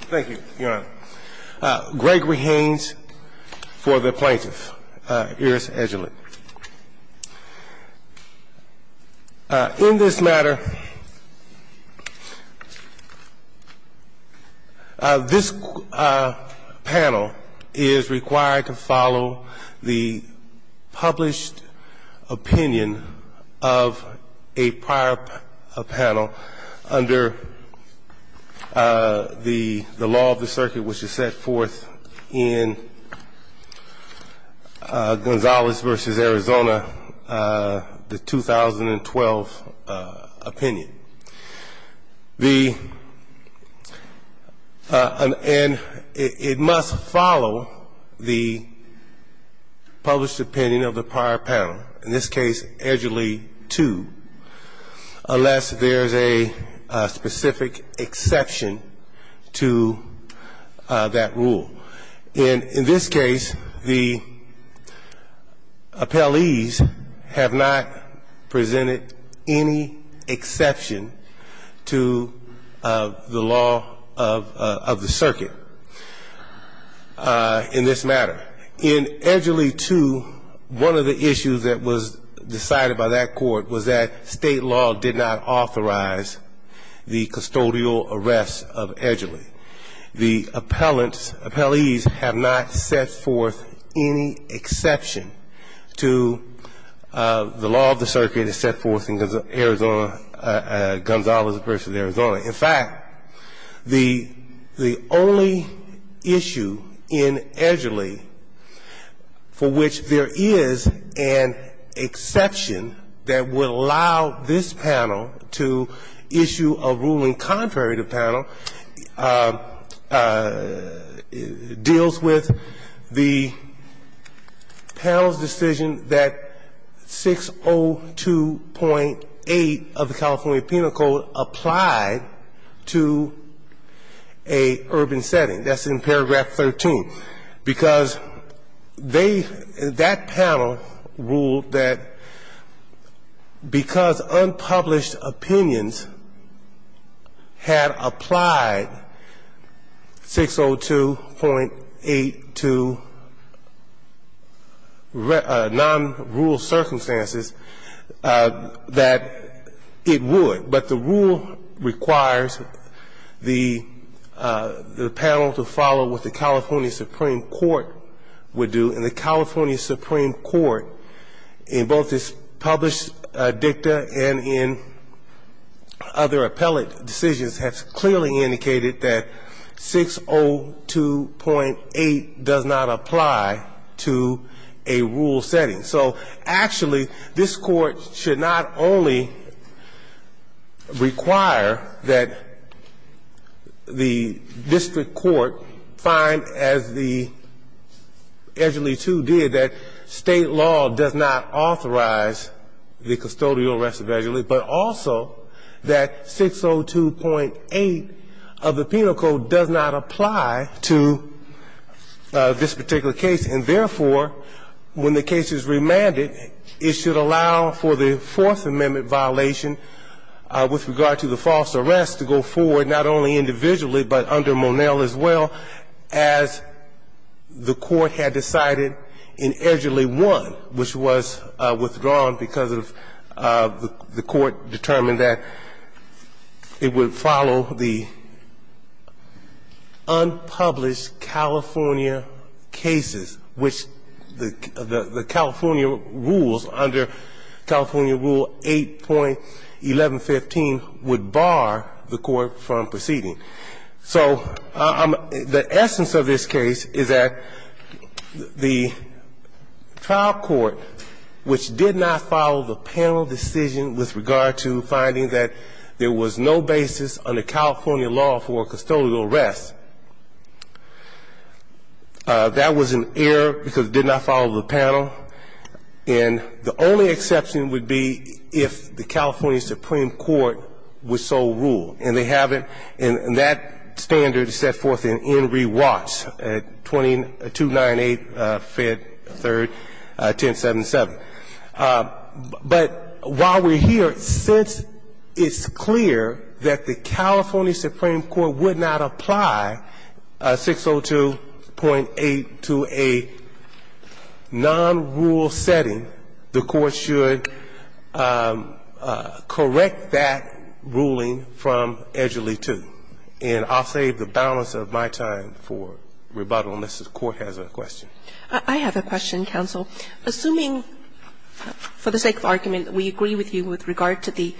Thank you, Your Honor. Gregory Haynes for the plaintiff, Erris Edgerly. In this matter, this panel is required to follow the published opinion of a prior panel under the law of the circuit which is set forth in Gonzalez v. Arizona, the 2012 opinion. And it must follow the published opinion of the prior panel, in this case, Edgerly 2, unless there is a specific exception to that rule. In this case, the appellees have not presented any exception to the law of the circuit in this matter. In Edgerly 2, one of the issues that was decided by that court was that state law did not authorize the custodial arrest of Edgerly. The appellees have not set forth any exception to the law of the circuit as set forth in Gonzalez v. Arizona. In fact, the only issue in Edgerly for which there is an exception that would allow this panel to issue a ruling contrary to panel deals with the panel's decision that 602.8 of the California Penal Code applied to an urban setting. That's in paragraph 13, because they, that panel ruled that because unpublished opinions had applied 602.8 to non-rural circumstances that it would. But the rule requires the panel to follow what the California Supreme Court would do. And the California Supreme Court, in both its published dicta and in other appellate decisions, has clearly indicated that 602.8 does not apply to a rural setting. So actually, this court should not only require that the district court find, as the Edgerly 2 did, that state law does not authorize the custodial arrest of Edgerly, but also that 602.8 of the penal code does not apply to this particular case. And therefore, when the case is remanded, it should allow for the Fourth Amendment violation with regard to the false arrest to go forward not only individually, but under Monell as well, as the court had decided in Edgerly 1, which was withdrawn because of the court determined that it would follow the unpublished California cases, which the California rules under California Rule 8.1115 would bar the court from proceeding. So the essence of this case is that the trial court, which did not follow the panel decision with regard to finding that there was no basis under California law for custodial arrest, that was an error because it did not follow the panel. And the only exception would be if the California Supreme Court were so ruled. And they haven't. And that standard is set forth in Enry Watts, 2298 Fed 3rd 1077. But while we're here, since it's clear that the California Supreme Court would not apply 602.8 to a non-rule setting, the court should correct that ruling from the California Supreme Court, which is the one that was not approved by the California Supreme And that's what we're going to do. We're going to come back from Edgerly 2, and I'll save the balance of my time for rebuttal unless the Court has a question. Kagan. I have a question, counsel. Assuming, for the sake of argument, we agree with you with regard to the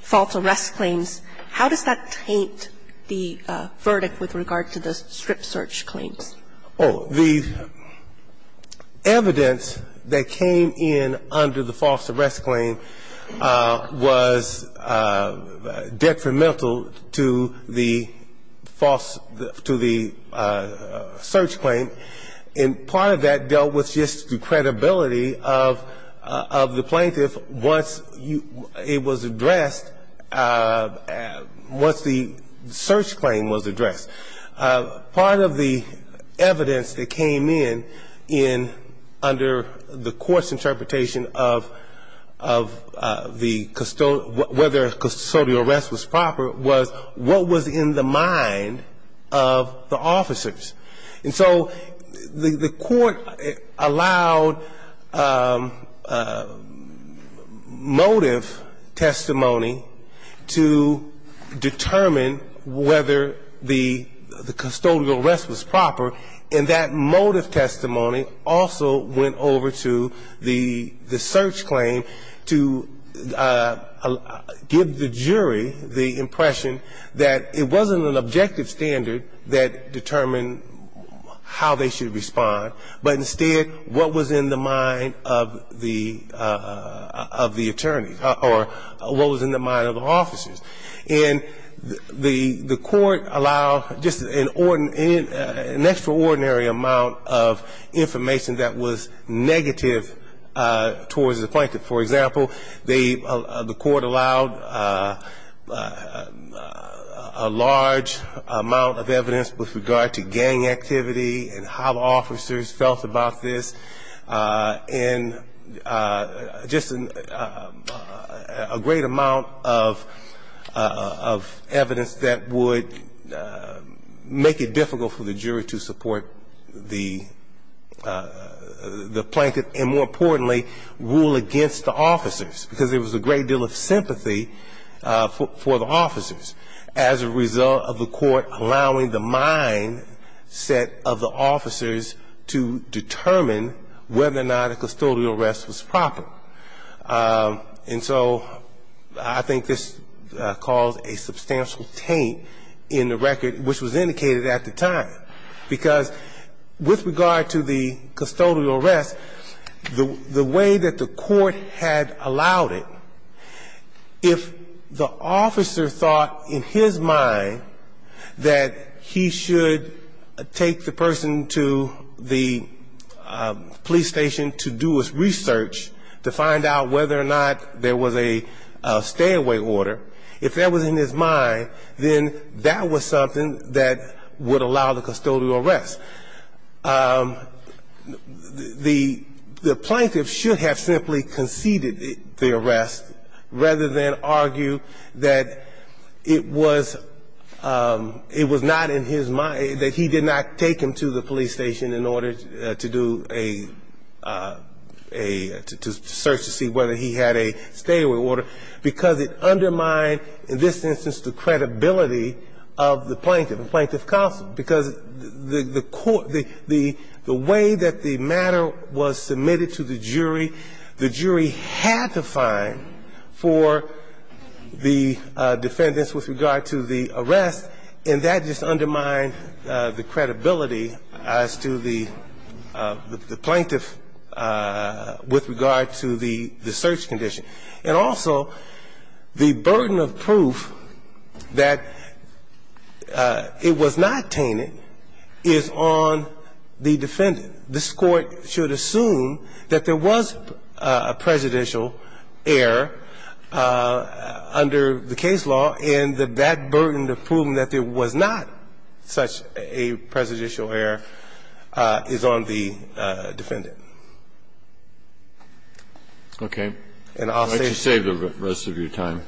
false arrest claims, how does that taint the verdict with regard to the strip search claims? Oh, the evidence that came in under the false arrest claim was detrimental to the false to the search claim, and part of that dealt with just the credibility of the plaintiff once it was addressed, once the search claim was addressed. Part of the evidence that came in under the court's interpretation of the custodial arrest was proper was what was in the mind of the officers. And so the court allowed motive testimony to determine whether the custodial arrest was proper, and that motive testimony also went over to the search claim to give the jury the impression that it wasn't an objective standard that determined how they should respond, but instead what was in the mind of the attorneys, or what was in the mind of the officers. And the court allowed just an extraordinary amount of information that was negative towards the plaintiff. For example, the court allowed a large amount of evidence with regard to gang activity and how the officers felt about this, and just a great amount of evidence that would make it difficult for the jury to support the plaintiff, and more importantly, rule against the officers, because there was a great deal of sympathy for the officers as a result of the court allowing the mindset of the officers to determine whether or not a custodial arrest was proper. And so I think this caused a substantial taint in the record, which was indicated at the time, because with regard to the custodial arrest, the way that the court had allowed it, if the officer thought in his mind that he should take the person to the police station to do his research, to find out whether or not there was a stay-away order, if that was in his mind, then that was something that would allow the custodial arrest. The plaintiff should have simply conceded the arrest rather than argue that it was not in his mind, that he did not take him to the police station in order to do a – to search to see whether he had a stay-away order, because it undermined, in this instance, the credibility of the plaintiff and plaintiff counsel. Because the court – the way that the matter was submitted to the jury, the jury had to find for the defendants with regard to the arrest, and that just undermined the credibility as to the plaintiff with regard to the search condition. And also, the burden of proof that it was not tainted was undermined. The burden of proof that it was not tainted is on the defendant. This Court should assume that there was a presidential error under the case law, and that that burden of proving that there was not such a presidential error is on the defendant. And I'll save the rest of your time. Thank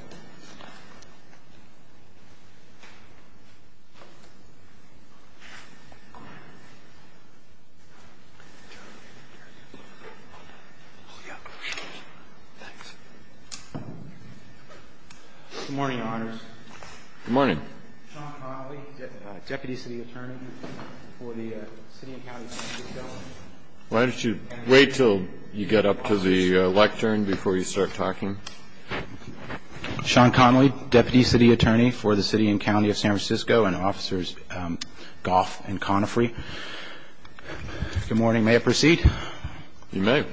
you. Thank you. Thank you. Good morning, Your Honors. Good morning. Sean Connolly, deputy city attorney for the City and County District of Delaware. Why don't you wait until you get up to the lectern before you start talking? Sean Connolly, deputy city attorney for the City and County of San Francisco and officers Goff and Connifre. Good morning. May I proceed? You may.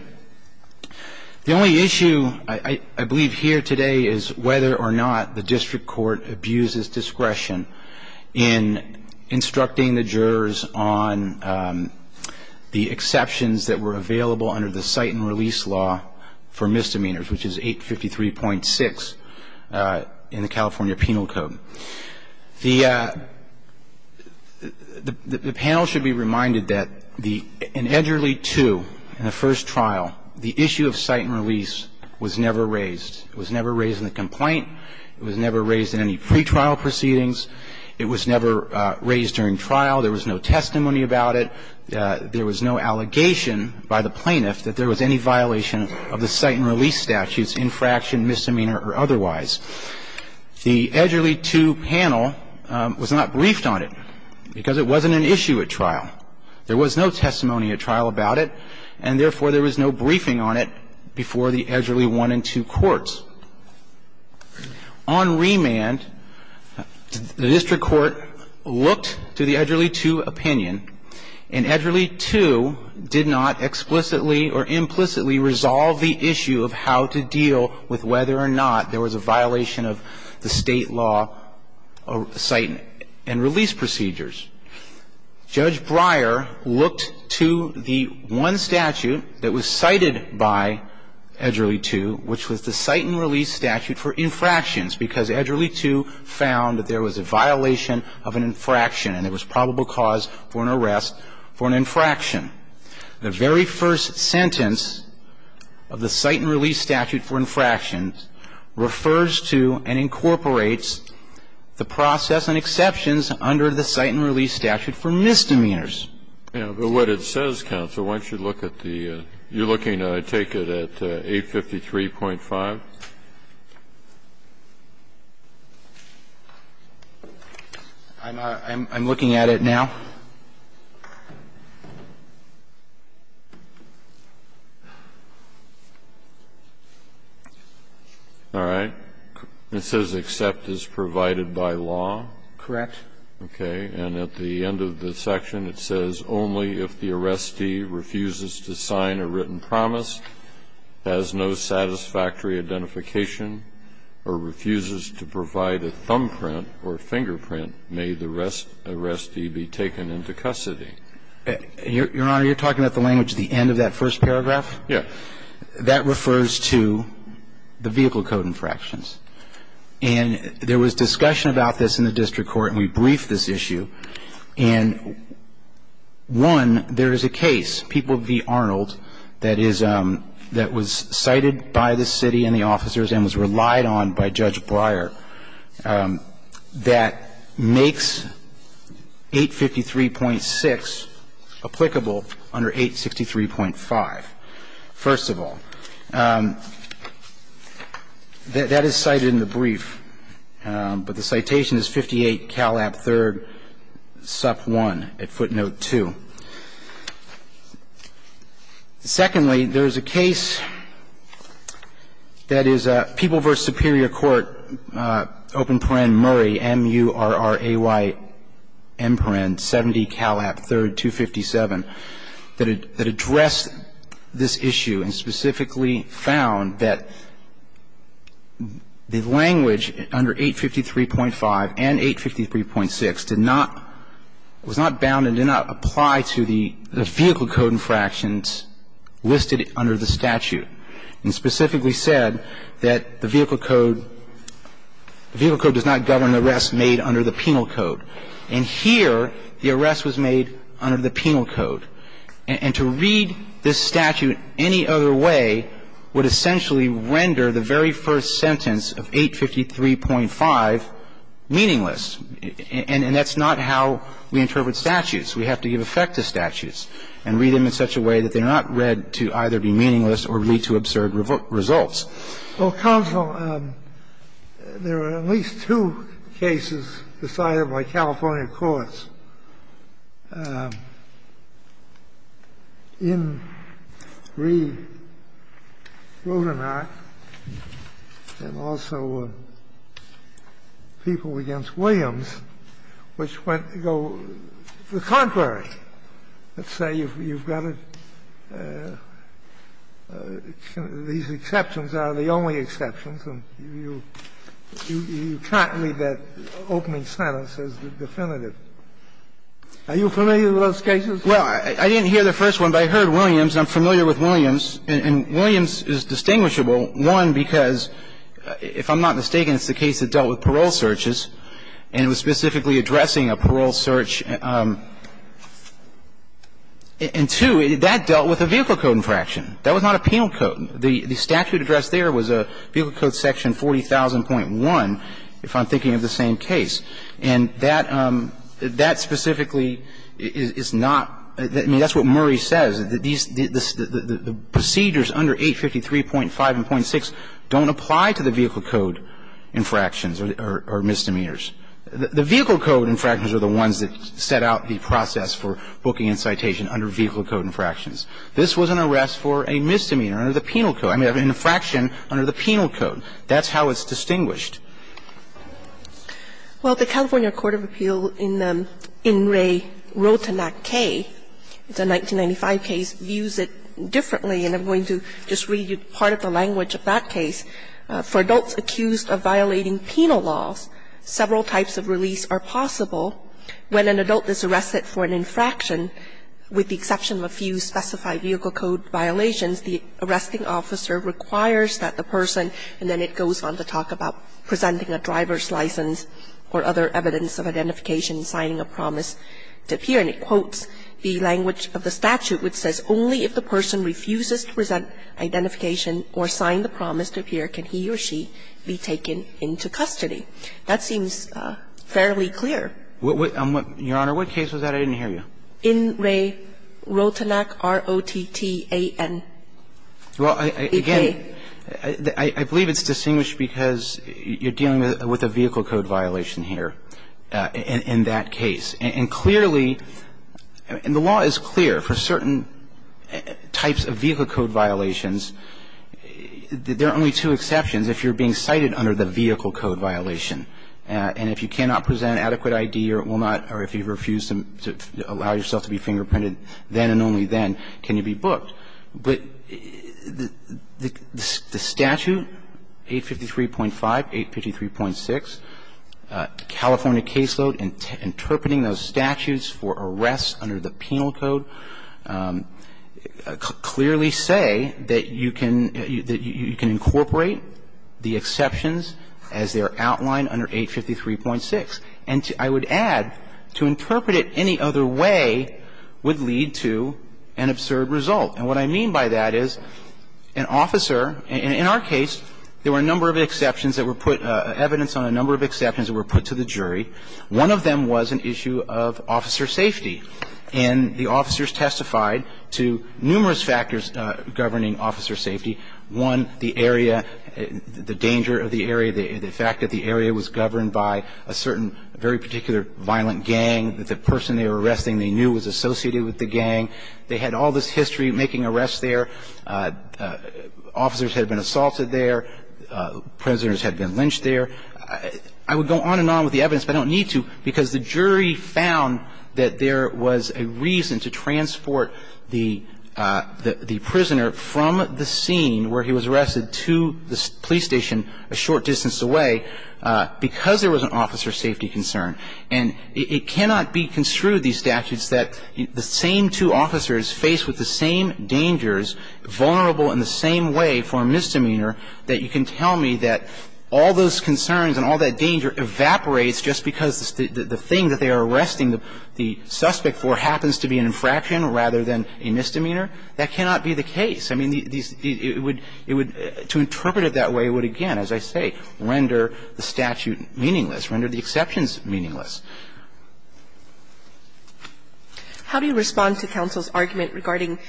The only issue, I believe, here today is whether or not the district court abuses discretion in instructing the jurors on the exceptions that were available under the cite and release law for misdemeanors, which is 853.6 in the California Penal Code. The panel should be reminded that in Edgerly 2, in the first trial, the issue of cite and release was never raised. It was never raised in any pre-trial proceedings. It was never raised during trial. There was no testimony about it. There was no allegation by the plaintiff that there was any violation of the cite and release statutes, infraction, misdemeanor or otherwise. The Edgerly 2 panel was not briefed on it because it wasn't an issue at trial. There was no testimony at trial about it, and therefore there was no briefing on it before the Edgerly 1 and 2 courts. On remand, the district court looked to the Edgerly 2 opinion, and Edgerly 2 did not explicitly or implicitly resolve the issue of how to deal with whether or not there was a violation of the State law of cite and release procedures. Judge Breyer looked to the one statute that was cited by Edgerly 2, which was the cite and release statute for infractions, because Edgerly 2 found that there was a violation of an infraction and there was probable cause for an arrest for an infraction. The very first sentence of the cite and release statute for infractions refers to and incorporates the process and exceptions under the cite and release statute for misdemeanors. Kennedy, you're looking at it, I take it, at 853.5? I'm looking at it now. All right. It says except as provided by law? Correct. Okay. And at the end of the section, it says only if the arrestee refuses to sign a written promise, has no satisfactory identification, or refuses to provide a thumbprint or fingerprint may the arrestee be taken into custody. Your Honor, you're talking about the language at the end of that first paragraph? Yes. That refers to the vehicle code infractions. And there was discussion about this in the district court, and we briefed this issue. And one, there is a case, People v. Arnold, that was cited by the city and the officers and was relied on by Judge Breyer that makes 853.6 applicable under 863.5. First of all, that is cited in the brief, but the citation is 58 Calab III, sup 1, at footnote 2. Secondly, there is a case that is People v. Superior Court, open paren Murray, M-U-R-R-A-Y-M-P-A-R-E-N, 70 Calab III, 257, that addressed this issue and specifically found that the language under 853.5 and 853.6 did not, was not bound and did not apply to the vehicle code infractions listed under the statute, and specifically said that the vehicle code does not govern the arrest made under the penal code. And here, the arrest was made under the penal code. And to read this statute any other way would essentially render the very first sentence of 853.5 meaningless. And that's not how we interpret statutes. We have to give effect to statutes and read them in such a way that they're not read to either be meaningless or lead to absurd results. Well, counsel, there are at least two cases decided by California courts in Reed, Rudenach, and also People v. Williams, which went to go the contrary. Let's say you've got a -- these exceptions are the only exceptions, and you can't read that opening sentence as the definitive. Are you familiar with those cases? Well, I didn't hear the first one, but I heard Williams, and I'm familiar with Williams. And Williams is distinguishable, one, because, if I'm not mistaken, it's the case that dealt with parole searches, and it was specifically addressing a parole search and, two, that dealt with a vehicle code infraction. That was not a penal code. The statute addressed there was a vehicle code section 40,000.1, if I'm thinking of the same case. And that specifically is not -- I mean, that's what Murray says, that these -- the procedures under 853.5 and .6 don't apply to the vehicle code infractions or misdemeanors. The vehicle code infractions are the ones that set out the process for booking incitation under vehicle code infractions. This was an arrest for a misdemeanor under the penal code. I mean, an infraction under the penal code. That's how it's distinguished. Well, the California Court of Appeal in In Re Rotenac K, it's a 1995 case, views it differently, and I'm going to just read you part of the language of that case. For adults accused of violating penal laws, several types of release are possible. When an adult is arrested for an infraction, with the exception of a few specified vehicle code violations, the arresting officer requires that the person, and then it goes on to talk about presenting a driver's license or other evidence of identification, signing a promise to appear. And it quotes the language of the statute, which says, only if the person refuses to present identification or sign the promise to appear can he or she be taken into custody. That seems fairly clear. Your Honor, what case was that? I didn't hear you. In Re Rotenac R-O-T-T-A-N. Well, again, I believe it's distinguished because you're dealing with a vehicle code violation here in that case. And clearly, and the law is clear for certain types of vehicle code violations. There are only two exceptions if you're being cited under the vehicle code violation. And if you cannot present adequate ID or it will not, or if you refuse to allow yourself to be fingerprinted then and only then, can you be booked. But the statute, 853.5, 853.6, California caseload, interpreting those statutes for arrests under the penal code, clearly say that you can incorporate the exceptions as they are outlined under 853.6. And I would add, to interpret it any other way would lead to an absurd result. And what I mean by that is an officer, in our case, there were a number of exceptions that were put, evidence on a number of exceptions that were put to the jury. One of them was an issue of officer safety. And the officers testified to numerous factors governing officer safety. One, the area, the danger of the area, the fact that the area was governed by a certain very particular violent gang, that the person they were arresting they knew was associated with the gang. They had all this history making arrests there. Officers had been assaulted there. Prisoners had been lynched there. I would go on and on with the evidence, but I don't need to, because the jury found that there was a reason to transport the prisoner from the scene where he was arrested to the police station a short distance away because there was an officer safety concern. And it cannot be construed, these statutes, that the same two officers faced with the same dangers, vulnerable in the same way for a misdemeanor, that you can tell me that all those concerns and all that danger evaporates just because the thing that they are arresting the suspect for happens to be an infraction rather than a misdemeanor. That cannot be the case. I mean, these – it would – to interpret it that way would, again, as I say, render the statute meaningless, render the exceptions meaningless. How do you respond to counsel's argument regarding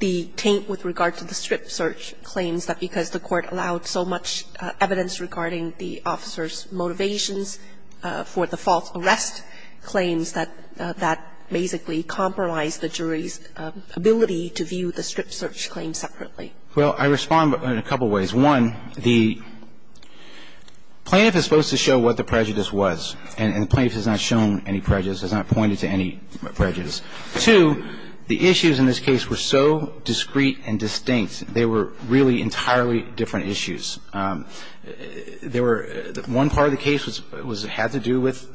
the taint with regard to the strip search claims, that because the Court allowed so much evidence regarding the officer's motivations for the false arrest claims, that that basically compromised the jury's ability to view the strip search claims separately? Well, I respond in a couple of ways. One, the plaintiff is supposed to show what the prejudice was, and the plaintiff has not shown any prejudice, has not pointed to any prejudice. Two, the issues in this case were so discreet and distinct. They were really entirely different issues. There were – one part of the case was – had to do with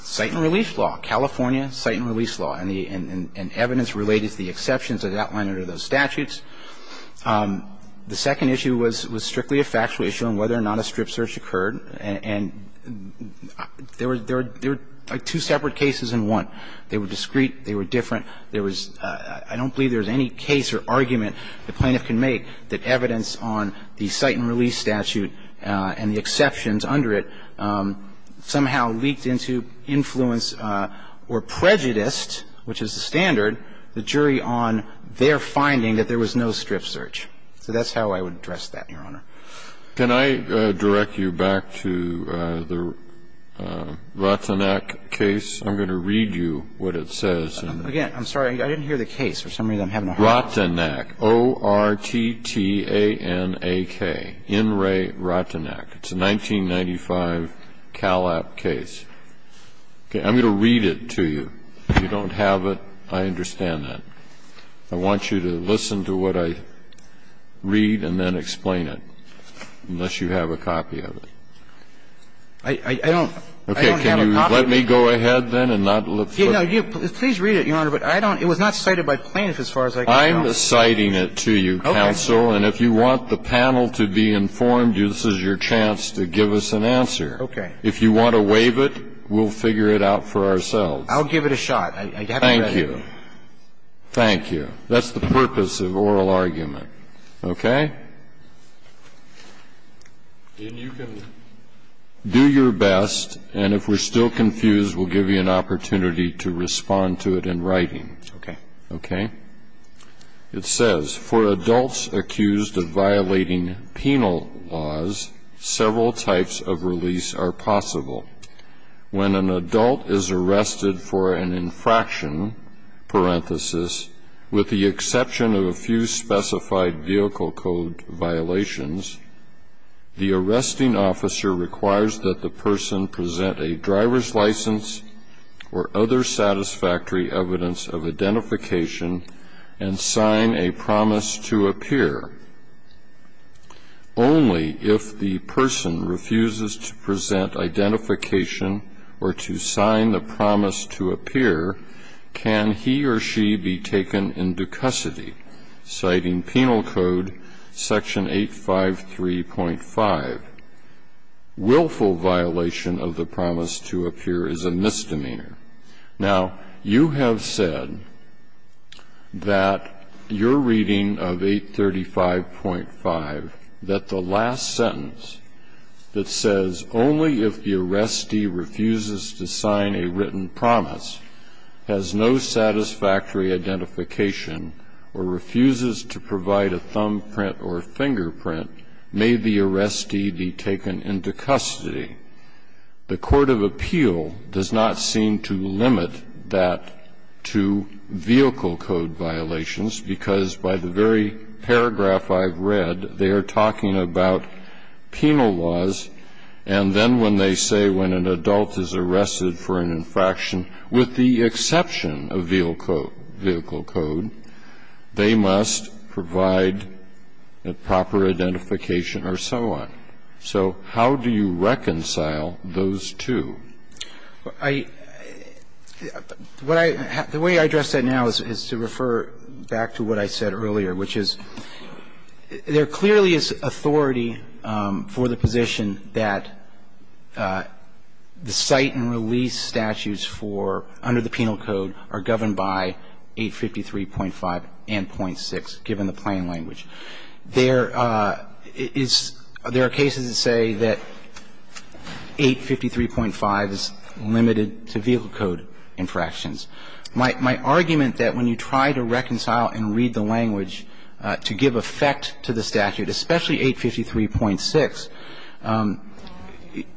site and release law, California site and release law, and the – and evidence related to the exceptions that are outlined under those statutes. The second issue was strictly a factual issue on whether or not a strip search occurred, and there were two separate cases in one. They were discreet, they were different, there was – I don't believe there was any case or argument the plaintiff can make that evidence on the site and release statute and the exceptions under it somehow leaked into influence or prejudiced, which is the standard, the jury on their finding that there was no strip search. So that's how I would address that, Your Honor. Can I direct you back to the Ratanak case? I'm going to read you what it says. Again, I'm sorry, I didn't hear the case. For some reason, I'm having a hard time hearing it. Ratanak, O-R-T-T-A-N-A-K, In Re Ratanak. It's a 1995 Callap case. Okay. I'm going to read it to you. If you don't have it, I understand that. I want you to listen to what I read and then explain it, unless you have a copy of it. I don't have a copy of it. Okay. Can you let me go ahead then and not look through it? No, please read it, Your Honor, but I don't – it was not cited by plaintiff as far as I can tell. I'm citing it to you, counsel, and if you want the panel to be informed, this is your chance to give us an answer. Okay. If you want to waive it, we'll figure it out for ourselves. I'll give it a shot. Thank you. Thank you. That's the purpose of oral argument. Okay? Then you can do your best, and if we're still confused, we'll give you an opportunity to respond to it in writing. Okay. Okay? It says, for adults accused of violating penal laws, several types of release are possible. When an adult is arrested for an infraction, parenthesis, with the exception of a few specified vehicle code violations, the arresting officer requires that the person present a driver's license or other satisfactory evidence of identification and sign a promise to appear. Only if the person refuses to present identification or to sign the promise to appear can he or she be taken into custody, citing Penal Code Section 853.5. Willful violation of the promise to appear is a misdemeanor. Now, you have said that your reading of 835.5, that the last sentence that says, only if the arrestee refuses to sign a written promise, has no satisfactory identification, or refuses to provide a thumbprint or fingerprint, may the arrestee be taken into custody. The court of appeal does not seem to limit that to vehicle code violations, because by the very paragraph I've read, they are talking about penal laws, and then when they say when an adult is arrested for an infraction, with the exception of vehicle code, they must provide a proper identification or so on. So how do you reconcile those two? I – what I – the way I address that now is to refer back to what I said earlier, which is there clearly is authority for the position that the cite and release statutes for – under the penal code are governed by 853.5 and .3, and that's 853.6, given the plain language. There is – there are cases that say that 853.5 is limited to vehicle code infractions. My – my argument that when you try to reconcile and read the language to give effect to the statute, especially 853.6,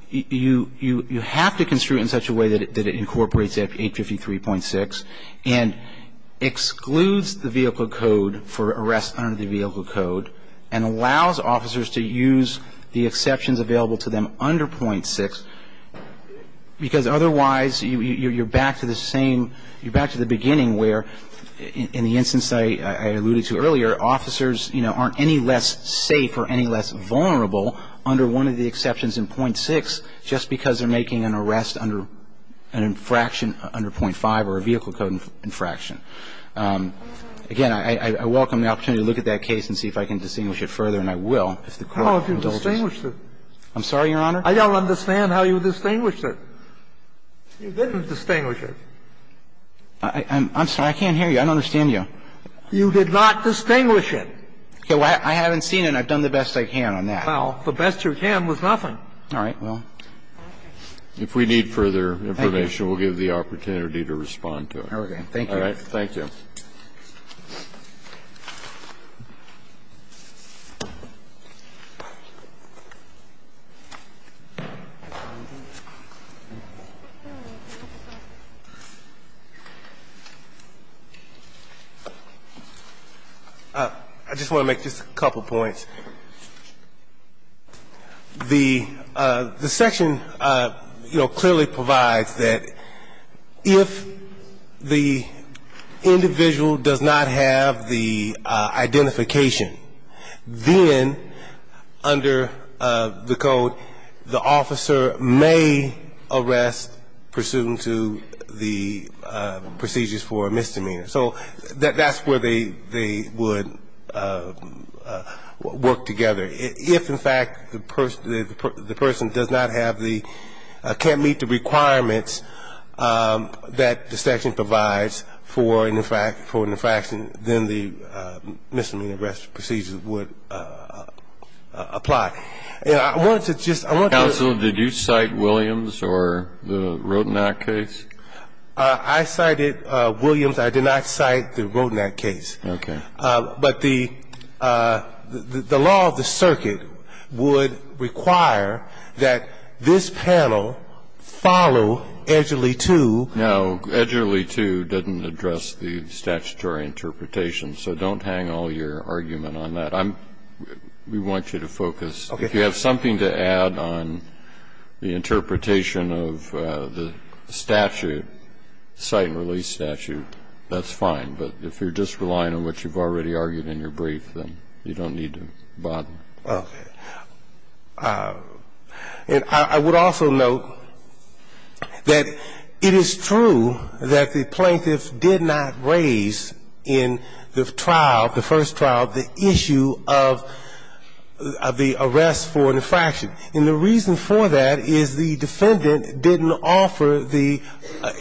you – you have to construe it in such a way that it incorporates 853.6 and excludes the vehicle code from the statute, because that's the only way that the statute is going to allow officers to use the vehicle code for arrest under the vehicle code, and allows officers to use the exceptions available to them under .6, because otherwise you – you're back to the same – you're back to the beginning where, in the instance I – I alluded to earlier, officers, you know, aren't any less safe or any less vulnerable under one of the exceptions in .6 just because they're making an arrest under an infraction under .5 or a vehicle code infraction. Again, I – I welcome the opportunity to look at that case and see if I can distinguish it further, and I will. If the Court will allow us. Kennedy, I don't understand how you distinguished it. You didn't distinguish it. I'm – I'm sorry. I can't hear you. I don't understand you. You did not distinguish it. Okay. Well, I haven't seen it, and I've done the best I can on that. Well, the best you can was nothing. All right. Well. If we need further information, we'll give you the opportunity to respond to it. Thank you. All right. Thank you. Thank you. I just want to make just a couple points. The – the section, you know, clearly provides that if the individual does not have the identification, then under the code, the officer may arrest pursuant to the procedures for a misdemeanor. So that's where they would work together. If, in fact, the person does not have the – can't meet the requirements that the section provides for an infraction, then the misdemeanor arrest procedure would apply. And I wanted to just – I wanted to – Counsel, did you cite Williams or the Rodinac case? I cited Williams. I did not cite the Rodinac case. Okay. But the – the law of the circuit would require that this panel follow Edgerly 2. Now, Edgerly 2 didn't address the statutory interpretation, so don't hang all your argument on that. I'm – we want you to focus. Okay. If you have something to add on the interpretation of the statute, the cite and release statute, that's fine. But if you're just relying on what you've already argued in your brief, then you don't need to bother. Okay. And I would also note that it is true that the plaintiffs did not raise in the trial, the first trial, the issue of the arrest for an infraction. And the reason for that is the defendant didn't offer the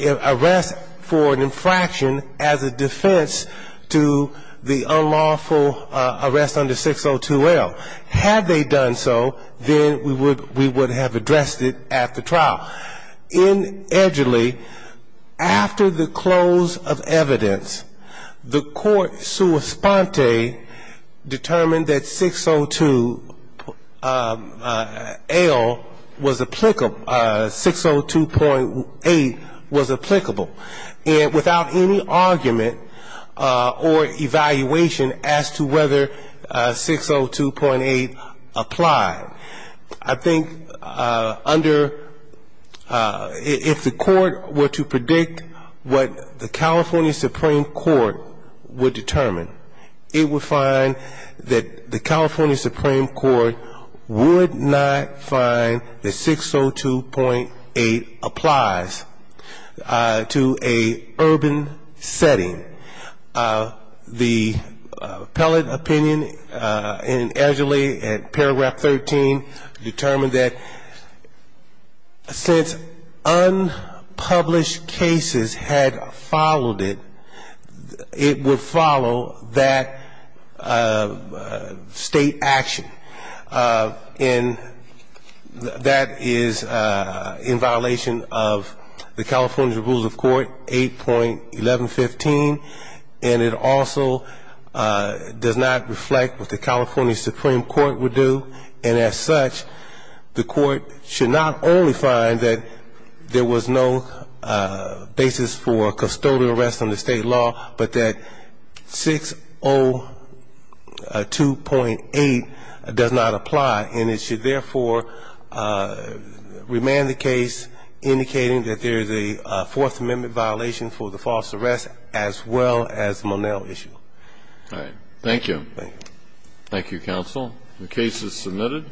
arrest for an infraction as a defense to the unlawful arrest under 602L. Had they done so, then we would have addressed it at the trial. Now, in Edgerly, after the close of evidence, the court sua sponte determined that 602L was applicable, 602.8 was applicable, and without any argument or evaluation as to whether 602.8 applied. I think under – if the court were to predict what the California Supreme Court would determine, it would find that the California Supreme Court would not find that 602.8 applies to a urban setting. The appellate opinion in Edgerly at paragraph 13 determined that since unpublished cases had followed it, it would follow that state action. And that is in violation of the California Rules of Court 8.1115. And it also does not reflect what the California Supreme Court would do. And as such, the court should not only find that there was no basis for custodial arrest under state law, but that 602.8 does not apply. And it should, therefore, remand the case indicating that there is a Fourth Amendment violation for the false arrest as well as the Monell issue. All right. Thank you. Thank you. Thank you, counsel. The case is submitted.